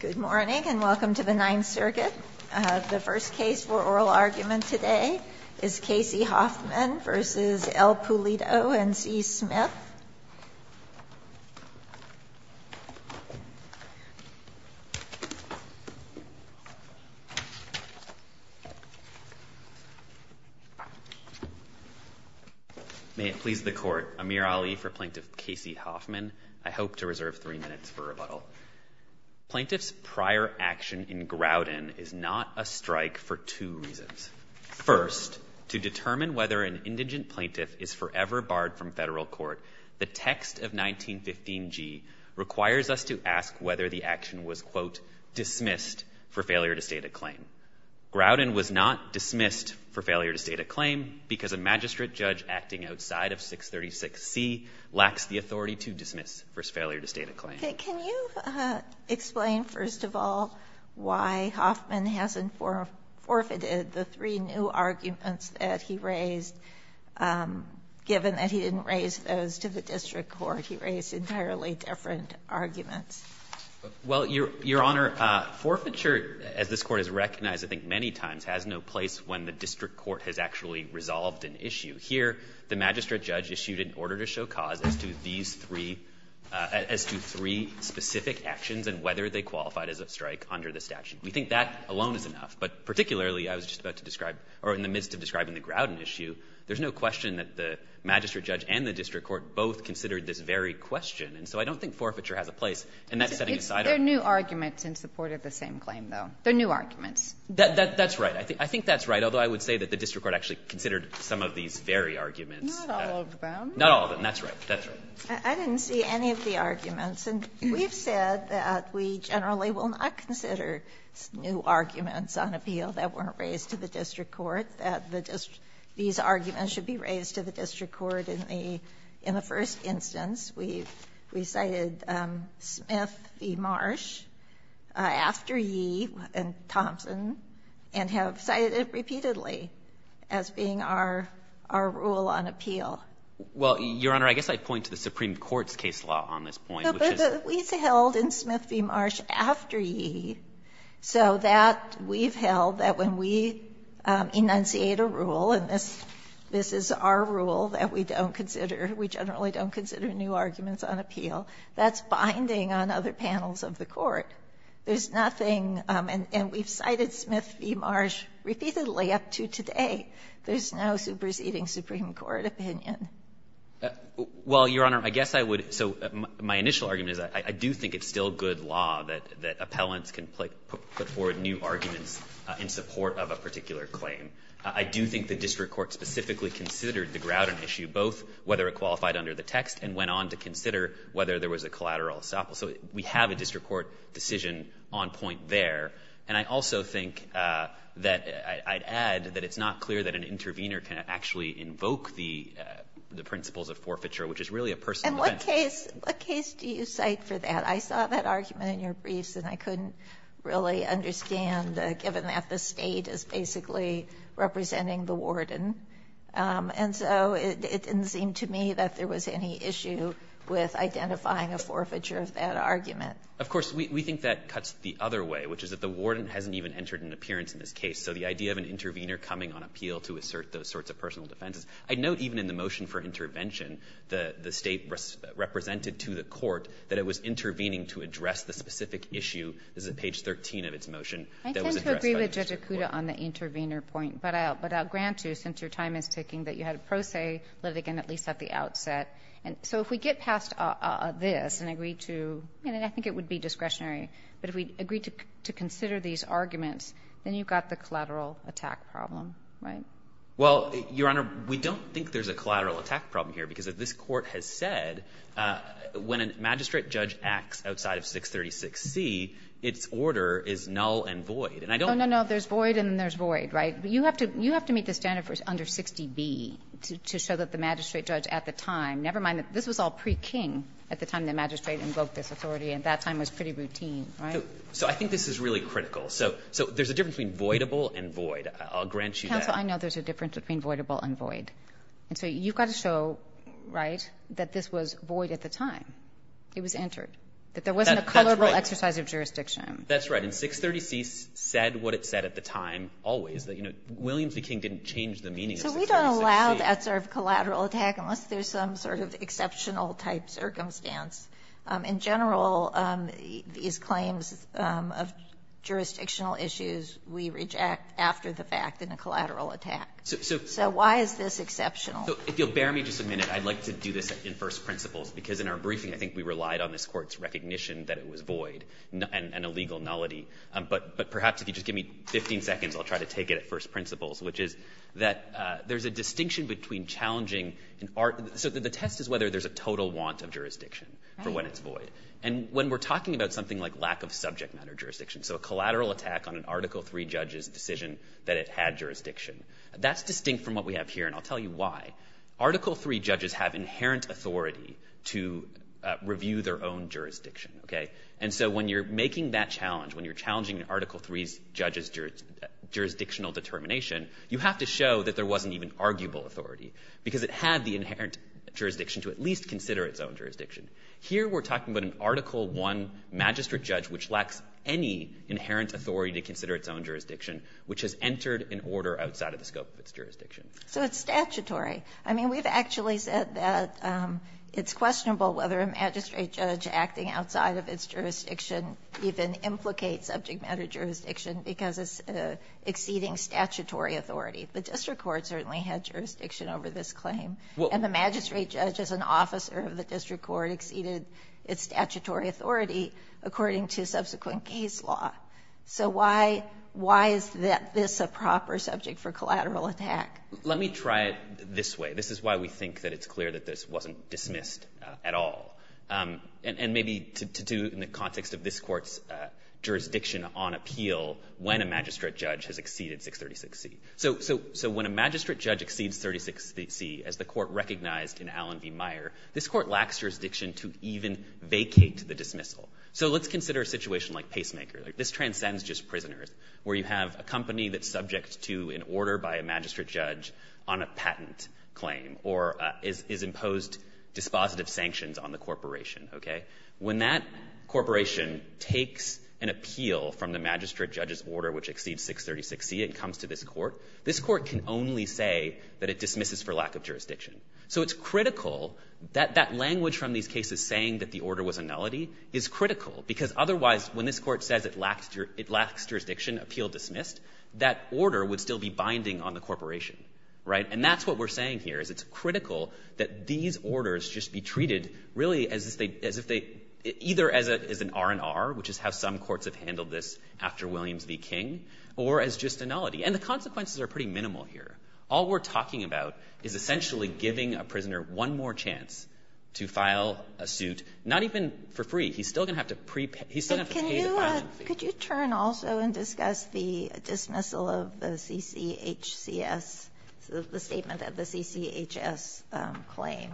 Good morning, and welcome to the Ninth Circuit. The first case for oral argument today is Kasey Hoffman v. L. Pulido v. C. Smith. May it please the Court, Amir Ali for Plaintiff Kasey Hoffman. I hope to reserve three minutes for rebuttal. Plaintiff's prior action in Groudon is not a strike for two reasons. First, to determine whether an indigent plaintiff is forever barred from Federal court, the text of 1915g requires us to ask whether the action was, quote, dismissed for failure to state a claim. Groudon was not dismissed for failure to state a claim because a magistrate judge acting outside of 636c lacks the authority to dismiss for failure to state a claim. Can you explain, first of all, why Hoffman hasn't forfeited the three new arguments that he raised, given that he didn't raise those to the district court? He raised entirely different arguments. Well, Your Honor, forfeiture, as this Court has recognized, I think, many times, has no place when the district court has actually resolved an issue. Here, the magistrate judge issued an order to show cause as to these three, as to these three specific actions and whether they qualified as a strike under the statute. We think that alone is enough. But particularly, I was just about to describe, or in the midst of describing the Groudon issue, there's no question that the magistrate judge and the district court both considered this very question. And so I don't think forfeiture has a place. And that's setting aside our ---- It's their new arguments in support of the same claim, though. Their new arguments. That's right. I think that's right, although I would say that the district court actually considered some of these very arguments. Not all of them. Not all of them. That's right. That's right. I didn't see any of the arguments. And we've said that we generally will not consider new arguments on appeal that weren't raised to the district court, that the district ---- these arguments should be raised to the district court in the first instance. We cited Smith v. Marsh after Yee and Thompson and have cited it repeatedly as being our rule on appeal. Well, Your Honor, I guess I'd point to the Supreme Court's case law on this point, which is ---- No, but we held in Smith v. Marsh after Yee, so that we've held that when we enunciate a rule, and this is our rule that we don't consider, we generally don't consider new arguments on appeal, that's binding on other panels of the Court. There's nothing ---- and we've cited Smith v. Marsh repeatedly up to today. There's no superseding Supreme Court opinion. Well, Your Honor, I guess I would ---- so my initial argument is I do think it's still good law that appellants can put forward new arguments in support of a particular claim. I do think the district court specifically considered the Grouton issue, both whether it qualified under the text and went on to consider whether there was a collateral estoppel. So we have a district court decision on point there. And I also think that I'd add that it's not clear that an intervener can actually invoke the principles of forfeiture, which is really a personal defense. And what case do you cite for that? I saw that argument in your briefs, and I couldn't really understand, given that the State is basically representing the warden. And so it didn't seem to me that there was any issue with identifying a forfeiture of that argument. Of course, we think that cuts the other way, which is that the warden hasn't even entered an appearance in this case. So the idea of an intervener coming on appeal to assert those sorts of personal defenses, I'd note even in the motion for intervention, the State represented to the court that it was intervening to address the specific issue. This is at page 13 of its motion that was addressed by the district court. I tend to agree with Judge Acuda on the intervener point, but I'll grant you, since your time is ticking, that you had a pro se litigant at least at the outset. And so if we get past this and agree to – and I think it would be discretionary – but if we agree to consider these arguments, then you've got the collateral attack problem, right? Well, Your Honor, we don't think there's a collateral attack problem here, because this Court has said when a magistrate judge acts outside of 636C, its order is null and void. And I don't think that's true. Oh, no, no. There's void and then there's void, right? You have to meet the standard for under 60B to show that the magistrate judge at the time – never mind that this was all pre-King at the time the magistrate invoked this authority, and that time was pretty routine, right? So I think this is really critical. So there's a difference between voidable and void. I'll grant you that. Counsel, I know there's a difference between voidable and void. And so you've got to show, right, that this was void at the time it was entered, that there wasn't a colorable exercise of jurisdiction. That's right. And 636C said what it said at the time always, that, you know, Williams v. King didn't change the meaning of 636C. Well, that's sort of a collateral attack unless there's some sort of exceptional type circumstance. In general, these claims of jurisdictional issues, we reject after the fact in a collateral attack. So why is this exceptional? So if you'll bear me just a minute, I'd like to do this in first principles, because in our briefing I think we relied on this Court's recognition that it was void and a legal nullity. But perhaps if you just give me 15 seconds, I'll try to take it at first principles, which is that there's a distinction between challenging and... So the test is whether there's a total want of jurisdiction for when it's void. And when we're talking about something like lack of subject matter jurisdiction, so a collateral attack on an Article III judge's decision that it had jurisdiction, that's distinct from what we have here, and I'll tell you why. Article III judges have inherent authority to review their own jurisdiction, okay? And so when you're making that challenge, when you're challenging an Article III judge's jurisdictional determination, you have to show that there wasn't even arguable authority, because it had the inherent jurisdiction to at least consider its own jurisdiction. Here we're talking about an Article I magistrate judge which lacks any inherent authority to consider its own jurisdiction, which has entered an order outside of the scope of its jurisdiction. So it's statutory. I mean, we've actually said that it's questionable whether a magistrate judge acting outside of its jurisdiction even implicates subject matter jurisdiction because it's exceeding statutory authority. The district court certainly had jurisdiction over this claim. And the magistrate judge as an officer of the district court exceeded its statutory authority according to subsequent case law. So why is this a proper subject for collateral attack? Let me try it this way. This is why we think that it's clear that this wasn't dismissed at all. And maybe to do in the context of this Court's jurisdiction on appeal when a magistrate judge has exceeded 636C. So when a magistrate judge exceeds 636C, as the Court recognized in Allen v. Meyer, this Court lacks jurisdiction to even vacate the dismissal. So let's consider a situation like Pacemaker. This transcends just prisoners, where you have a company that's subject to an order by a magistrate judge on a patent claim or is imposed dispositive sanctions on the corporation, okay? When that corporation takes an appeal from the magistrate judge's order which exceeds 636C and comes to this Court, this Court can only say that it dismisses for lack of jurisdiction. So it's critical that that language from these cases saying that the order was a nullity is critical because otherwise when this Court says it lacks jurisdiction, appeal dismissed, that order would still be binding on the corporation, right? And that's what we're saying here is it's critical that these orders just be treated really as if they as if they either as an R&R, which is how some courts have handled this after Williams v. King, or as just a nullity. And the consequences are pretty minimal here. All we're talking about is essentially giving a prisoner one more chance to file a suit, not even for free. He's still going to have to pre-pay he's still going to have to pay the fine. Ginsburg. Could you turn also and discuss the dismissal of the CCHCS, the statement that the CCHS claim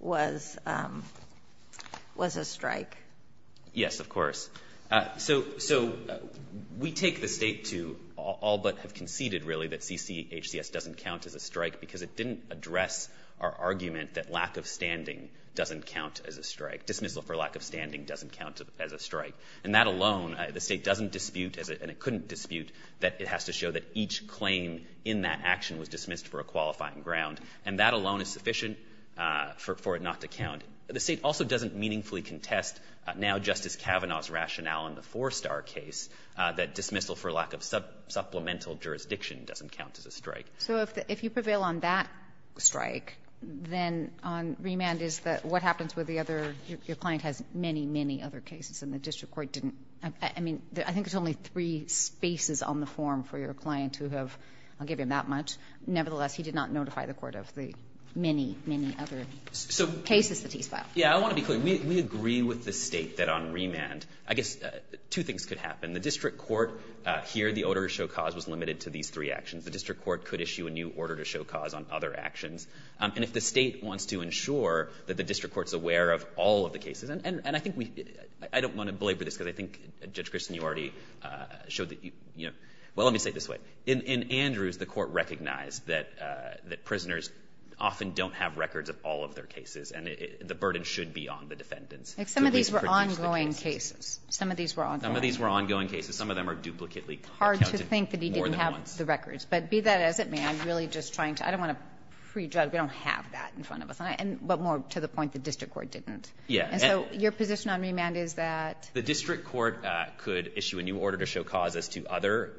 was a strike? Yes, of course. So we take the State to all but have conceded really that CCHCS doesn't count as a strike because it didn't address our argument that lack of standing doesn't count as a strike. Dismissal for lack of standing doesn't count as a strike. And that alone, the State doesn't dispute, and it couldn't dispute, that it has to show that each claim in that action was dismissed for a qualifying ground. And that alone is sufficient for it not to count. The State also doesn't meaningfully contest now Justice Kavanaugh's rationale in the Four Star case that dismissal for lack of supplemental jurisdiction doesn't count as a strike. So if you prevail on that strike, then on remand is that what happens with the other cases? Your client has many, many other cases, and the district court didn't. I mean, I think there's only three spaces on the form for your client who have, I'll give you that much. Nevertheless, he did not notify the court of the many, many other cases that he's filed. Yeah. I want to be clear. We agree with the State that on remand, I guess two things could happen. The district court here, the order to show cause was limited to these three actions. The district court could issue a new order to show cause on other actions. And if the State wants to ensure that the district court is aware of all of the cases, and I think we – I don't want to belabor this because I think, Judge Kristin, you already showed that you – well, let me say it this way. In Andrews, the court recognized that prisoners often don't have records of all of their cases, and the burden should be on the defendants. If some of these were ongoing cases. Some of these were ongoing. Some of these were ongoing cases. Some of them are duplicately counted more than once. Hard to think that he didn't have the records. But be that as it may, I'm really just trying to – I don't want to prejudge – we don't have that in front of us. And – but more to the point, the district court didn't. And so your position on remand is that? The district court could issue a new order to show cause as to other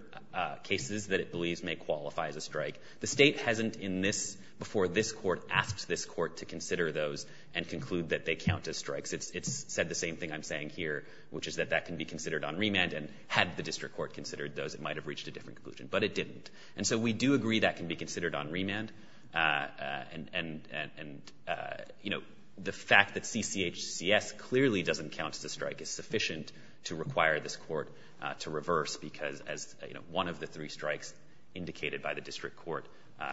cases that it believes may qualify as a strike. The State hasn't in this – before this court asked this court to consider those and conclude that they count as strikes. It's said the same thing I'm saying here, which is that that can be considered on remand. And had the district court considered those, it might have reached a different conclusion. But it didn't. And so we do agree that can be considered on remand. And, you know, the fact that CCHCS clearly doesn't count as a strike is sufficient to require this court to reverse, because as, you know, one of the three strikes indicated by the district court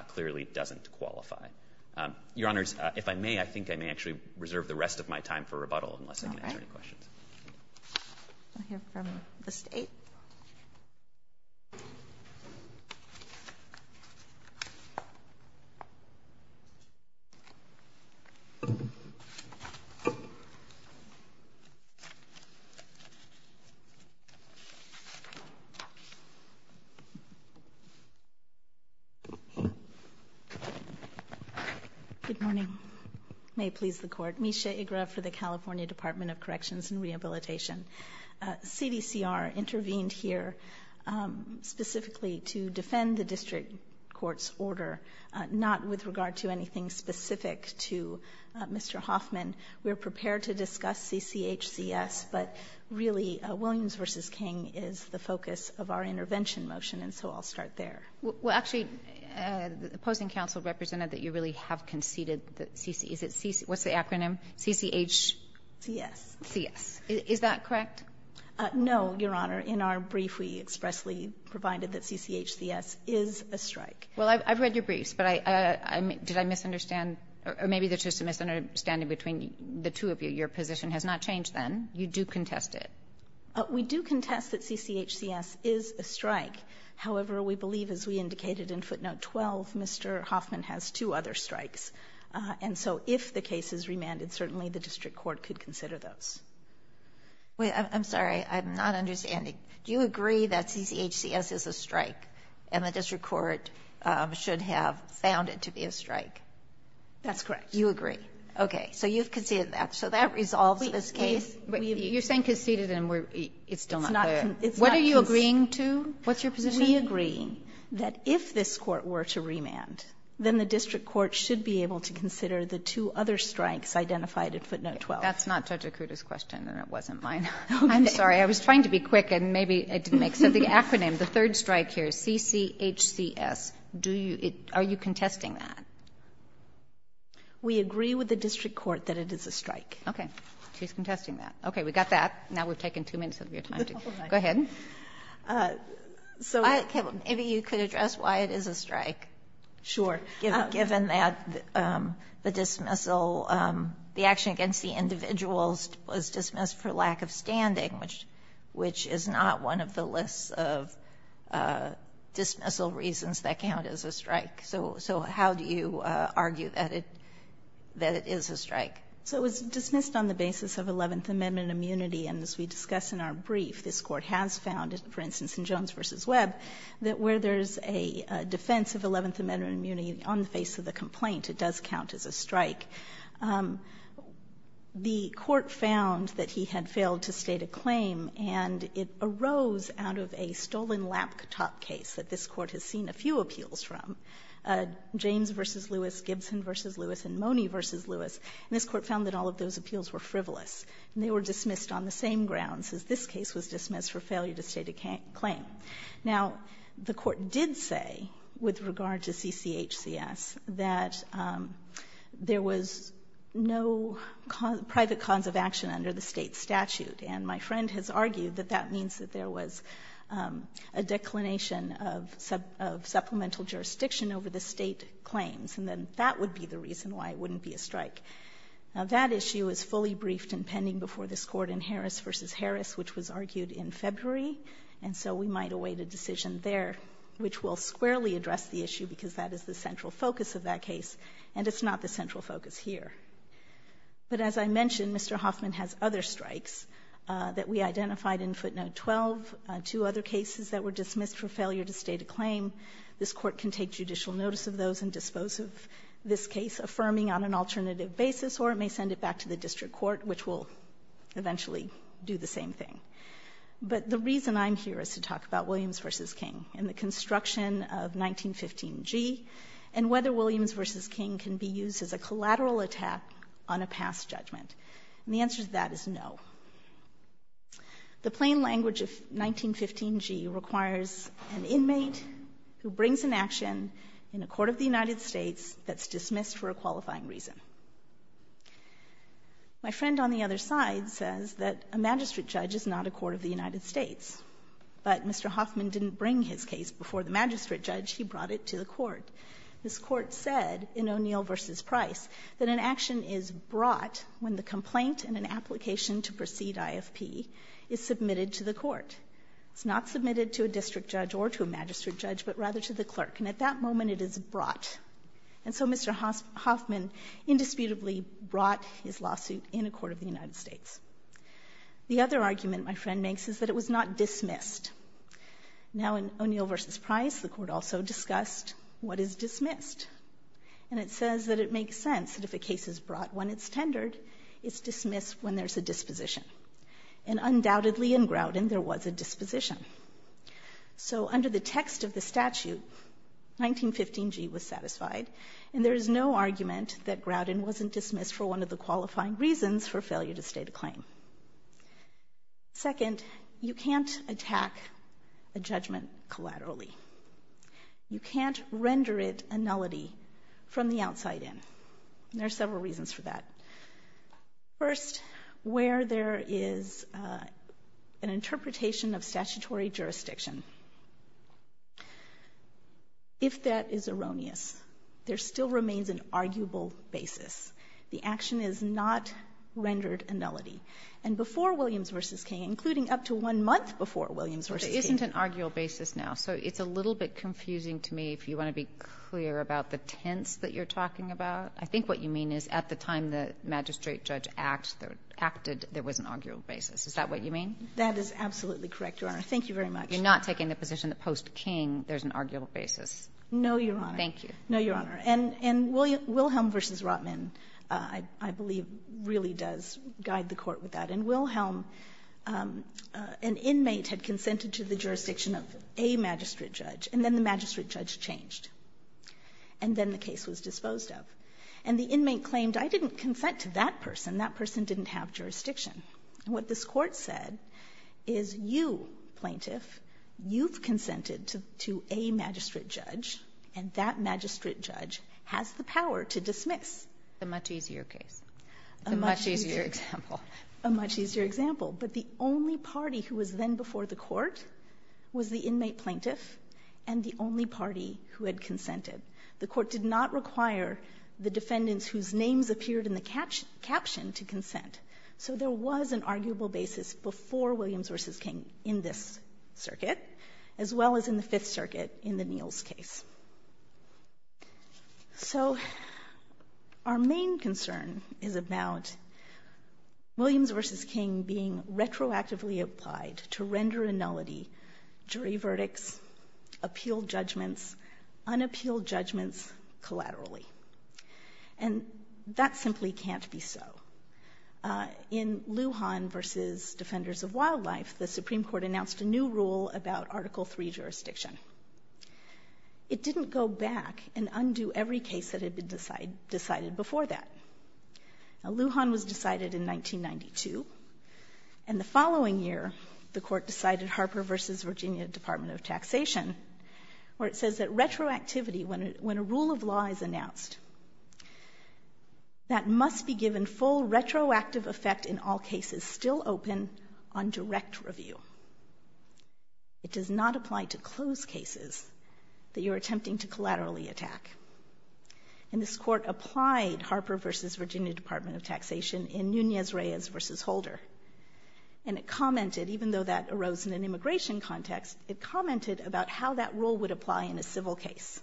clearly doesn't qualify. Your Honors, if I may, I think I may actually reserve the rest of my time for rebuttal unless I can answer any questions. All right. We'll hear from the State. Thank you. Good morning. May it please the Court. Misha Igra for the California Department of Corrections and Rehabilitation. CDCR intervened here specifically to defend the district court's order, not with regard to anything specific to Mr. Hoffman. We are prepared to discuss CCHCS, but really Williams v. King is the focus of our intervention motion, and so I'll start there. Well, actually, the opposing counsel represented that you really have conceded that CCHCS. What's the acronym? CCHCS. CCHCS. Is that correct? No, Your Honor. In our brief, we expressly provided that CCHCS is a strike. Well, I've read your briefs, but did I misunderstand? Or maybe there's just a misunderstanding between the two of you. Your position has not changed then. You do contest it. We do contest that CCHCS is a strike. However, we believe, as we indicated in footnote 12, Mr. Hoffman has two other strikes. And so if the case is remanded, certainly the district court could consider those. I'm sorry. I'm not understanding. Do you agree that CCHCS is a strike and the district court should have found it to be a strike? That's correct. You agree. Okay. So you've conceded that. So that resolves this case. You're saying conceded, and it's still not clear. It's not conceded. What are you agreeing to? What's your position? Are we agreeing that if this court were to remand, then the district court should be able to consider the two other strikes identified in footnote 12? That's not Judge Akuta's question, and it wasn't mine. I'm sorry. I was trying to be quick, and maybe I didn't make sense. The acronym, the third strike here, CCHCS, do you – are you contesting that? We agree with the district court that it is a strike. Okay. She's contesting that. We got that. Now we've taken two minutes of your time. Go ahead. So maybe you could address why it is a strike. Sure. Given that the dismissal, the action against the individuals was dismissed for lack of standing, which is not one of the lists of dismissal reasons that count as a strike. So how do you argue that it is a strike? So it was dismissed on the basis of Eleventh Amendment immunity, and as we discussed in our brief, this Court has found, for instance in Jones v. Webb, that where there is a defense of Eleventh Amendment immunity on the face of the complaint, it does count as a strike. The Court found that he had failed to state a claim, and it arose out of a stolen laptop case that this Court has seen a few appeals from, James v. Lewis, Gibson v. Lewis, and Mone v. Lewis. And this Court found that all of those appeals were frivolous, and they were dismissed on the same grounds as this case was dismissed for failure to state a claim. Now, the Court did say with regard to CCHCS that there was no private cause of action under the State statute. And my friend has argued that that means that there was a declination of supplemental jurisdiction over the State claims, and then that would be the reason why it wouldn't be a strike. Now, that issue is fully briefed and pending before this Court in Harris v. Harris, which was argued in February, and so we might await a decision there which will squarely address the issue, because that is the central focus of that case, and it's not the central focus here. But as I mentioned, Mr. Hoffman has other strikes that we identified in footnote 12, two other cases that were dismissed for failure to state a claim. This Court can take judicial notice of those and dispose of this case, affirming on an alternative basis, or it may send it back to the district court, which will eventually do the same thing. But the reason I'm here is to talk about Williams v. King and the construction of 1915g and whether Williams v. King can be used as a collateral attack on a past judgment. And the answer to that is no. The plain language of 1915g requires an inmate who brings an action in a court of the United States for a qualifying reason. My friend on the other side says that a magistrate judge is not a court of the United States, but Mr. Hoffman didn't bring his case before the magistrate judge. He brought it to the court. This Court said in O'Neill v. Price that an action is brought when the complaint and an application to proceed IFP is submitted to the court. It's not submitted to a district judge or to a magistrate judge, but rather to the clerk. And at that moment, it is brought. And so Mr. Hoffman indisputably brought his lawsuit in a court of the United States. The other argument my friend makes is that it was not dismissed. Now in O'Neill v. Price, the Court also discussed what is dismissed. And it says that it makes sense that if a case is brought when it's tendered, it's dismissed when there's a disposition. So under the text of the statute, 1915g was satisfied. And there is no argument that Grouton wasn't dismissed for one of the qualifying reasons for failure to state a claim. Second, you can't attack a judgment collaterally. You can't render it a nullity from the outside in. There are several reasons for that. First, where there is an interpretation of statutory jurisdiction. If that is erroneous, there still remains an arguable basis. The action is not rendered a nullity. And before Williams v. King, including up to one month before Williams v. King There isn't an arguable basis now, so it's a little bit confusing to me if you want to be clear about the tense that you're talking about. I think what you mean is at the time the magistrate judge acted, there was an arguable basis. Is that what you mean? That is absolutely correct, Your Honor. Thank you very much. You're not taking the position that post King, there's an arguable basis. No, Your Honor. Thank you. No, Your Honor. And Wilhelm v. Rotman, I believe, really does guide the Court with that. And Wilhelm, an inmate had consented to the jurisdiction of a magistrate judge, and then the magistrate judge changed. And then the case was disposed of. And the inmate claimed, I didn't consent to that person. That person didn't have jurisdiction. What this Court said is you, plaintiff, you've consented to a magistrate judge, and that magistrate judge has the power to dismiss. The much easier case. The much easier example. A much easier example. But the only party who was then before the Court was the inmate plaintiff and the only party who had consented. The Court did not require the defendants whose names appeared in the caption to consent. So there was an arguable basis before Williams v. King in this circuit, as well as in the Fifth Circuit in the Neels case. So our main concern is about Williams v. King being retroactively applied to render a nullity, jury verdicts, appealed judgments, unappealed judgments, collaterally. And that simply can't be so. In Lujan v. Defenders of Wildlife, the Supreme Court announced a new rule about Article III jurisdiction. It didn't go back and undo every case that had been decided before that. Now, Lujan was decided in 1992. And the following year, the Court decided Harper v. Virginia Department of Taxation where it says that retroactivity, when a rule of law is announced, that must be given full retroactive effect in all cases still open on direct review. It does not apply to closed cases that you're attempting to collaterally attack. And this Court applied Harper v. Virginia Department of Taxation in Nunez-Reyes v. Holder. And it commented, even though that arose in an immigration context, it commented about how that rule would apply in a civil case.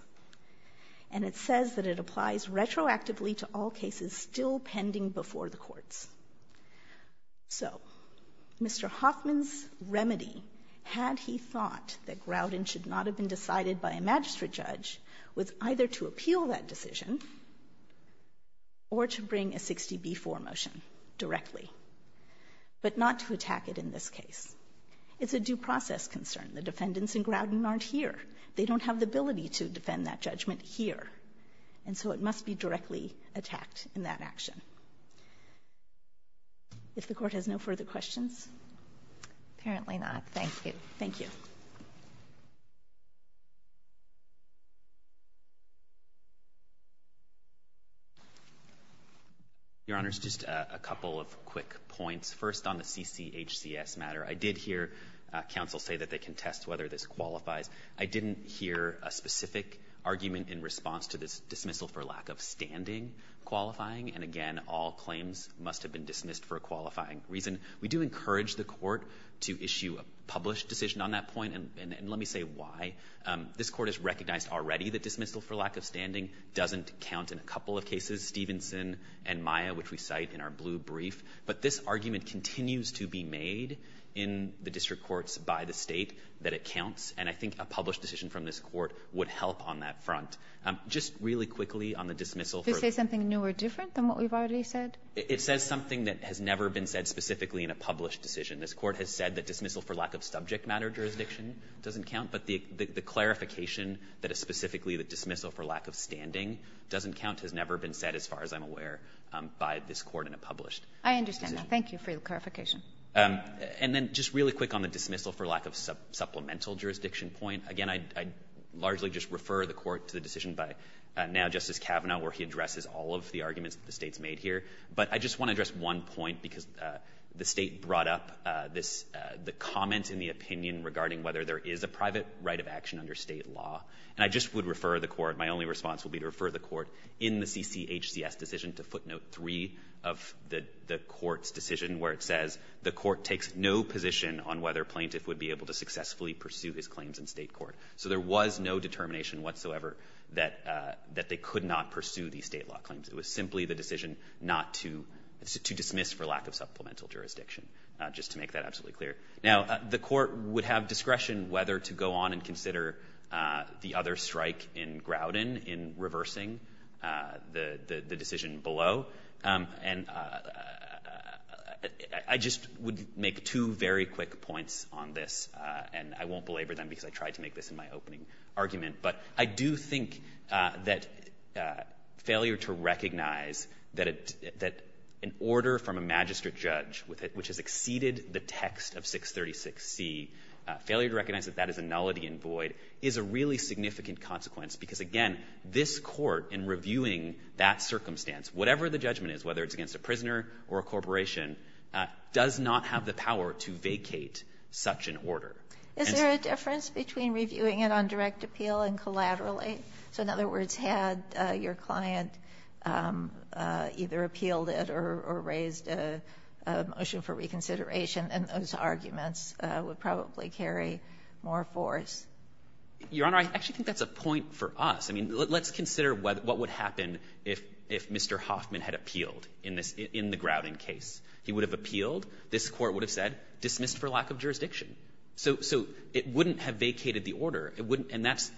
And it says that it applies retroactively to all cases still pending before the courts. So Mr. Hoffman's remedy, had he thought that Groudon should not have been decided by a magistrate judge, was either to appeal that decision or to bring a 60-B-4 motion directly, but not to attack it in this case. It's a due process concern. The defendants in Groudon aren't here. They don't have the ability to defend that judgment here. And so it must be directly attacked in that action. If the Court has no further questions. Apparently not. Thank you. Thank you. Your Honors, just a couple of quick points. First, on the CCHCS matter, I did hear counsel say that they can test whether this qualifies. I didn't hear a specific argument in response to this dismissal for lack of standing qualifying. And again, all claims must have been dismissed for a qualifying reason. We do encourage the Court to issue a published decision on that point. And let me say why. This Court has recognized already that dismissal for lack of standing doesn't count in a couple of cases, Stevenson and Maya, which we cite in our blue brief. But this argument continues to be made in the district courts by the State that it counts. And I think a published decision from this Court would help on that front. Just really quickly on the dismissal. Did it say something new or different than what we've already said? It says something that has never been said specifically in a published decision. This Court has said that dismissal for lack of subject matter jurisdiction doesn't count. But the clarification that is specifically the dismissal for lack of standing doesn't count has never been said, as far as I'm aware, by this Court in a published decision. I understand that. Thank you for your clarification. And then just really quick on the dismissal for lack of supplemental jurisdiction Again, I'd largely just refer the Court to the decision by now Justice Kavanaugh where he addresses all of the arguments that the State's made here. But I just want to address one point because the State brought up this the comment in the opinion regarding whether there is a private right of action under State law. And I just would refer the Court, my only response would be to refer the Court in the CCHCS decision to footnote three of the Court's decision where it says the Court takes no position on whether a plaintiff would be able to successfully pursue his claims in State court. So there was no determination whatsoever that they could not pursue these State law claims. It was simply the decision not to dismiss for lack of supplemental jurisdiction, just to make that absolutely clear. Now, the Court would have discretion whether to go on and consider the other strike in Groudon in reversing the decision below. And I just would make two very quick points on this. And I won't belabor them because I tried to make this in my opening argument. But I do think that failure to recognize that an order from a magistrate judge which has exceeded the text of 636C, failure to recognize that that is a nullity in void is a really significant consequence. Because, again, this Court in reviewing that circumstance, whatever the judgment is, whether it's against a prisoner or a corporation, does not have the power to vacate such an order. And so the question is, is there a difference between reviewing it on direct appeal and collaterally? So in other words, had your client either appealed it or raised a motion for reconsideration, then those arguments would probably carry more force. Your Honor, I actually think that's a point for us. I mean, let's consider what would happen if Mr. Hoffman had appealed in the Groudon case. He would have appealed. This Court would have said, dismissed for lack of jurisdiction. So it wouldn't have vacated the order. It wouldn't. And that's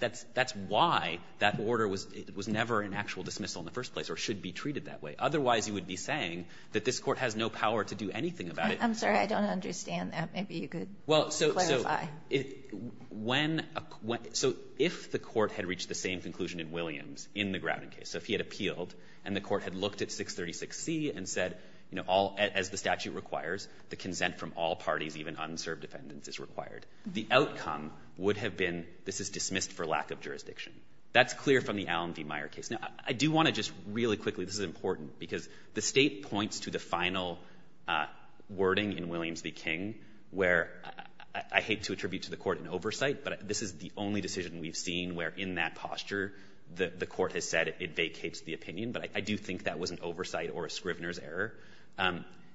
why that order was never an actual dismissal in the first place or should be treated that way. Otherwise, you would be saying that this Court has no power to do anything about it. I'm sorry. I don't understand that. Maybe you could clarify. Well, so if the Court had reached the same conclusion in Williams in the Groudon case, so if he had appealed and the Court had looked at 636C and said, you know, all as the statute requires, the consent from all parties, even unserved defendants, is required, the outcome would have been this is dismissed for lack of jurisdiction. That's clear from the Allen v. Meyer case. Now, I do want to just really quickly, this is important, because the State points to the final wording in Williams v. King where I hate to attribute to the Court an oversight, but this is the only decision we've seen where in that posture the Court has said it vacates the opinion. But I do think that was an oversight or a Scrivener's error.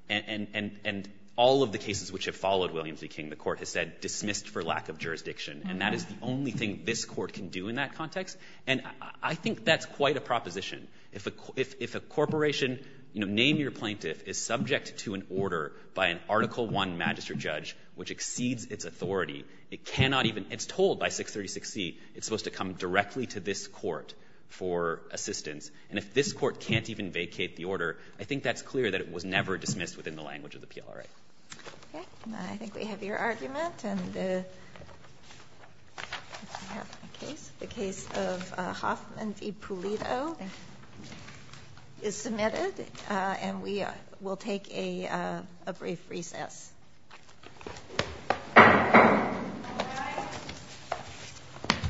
And all of the cases which have followed Williams v. King, the Court has said dismissed for lack of jurisdiction. And that is the only thing this Court can do in that context. And I think that's quite a proposition. If a corporation, you know, name your plaintiff, is subject to an order by an Article I magistrate judge which exceeds its authority, it cannot even — it's told by 636C it's supposed to come directly to this Court for assistance. And if this Court can't even vacate the order, I think that's clear that it was never dismissed within the language of the PLRA. Okay. I think we have your argument. And we have a case. The case of Hoffman v. Pulido is submitted. And we will take a brief recess.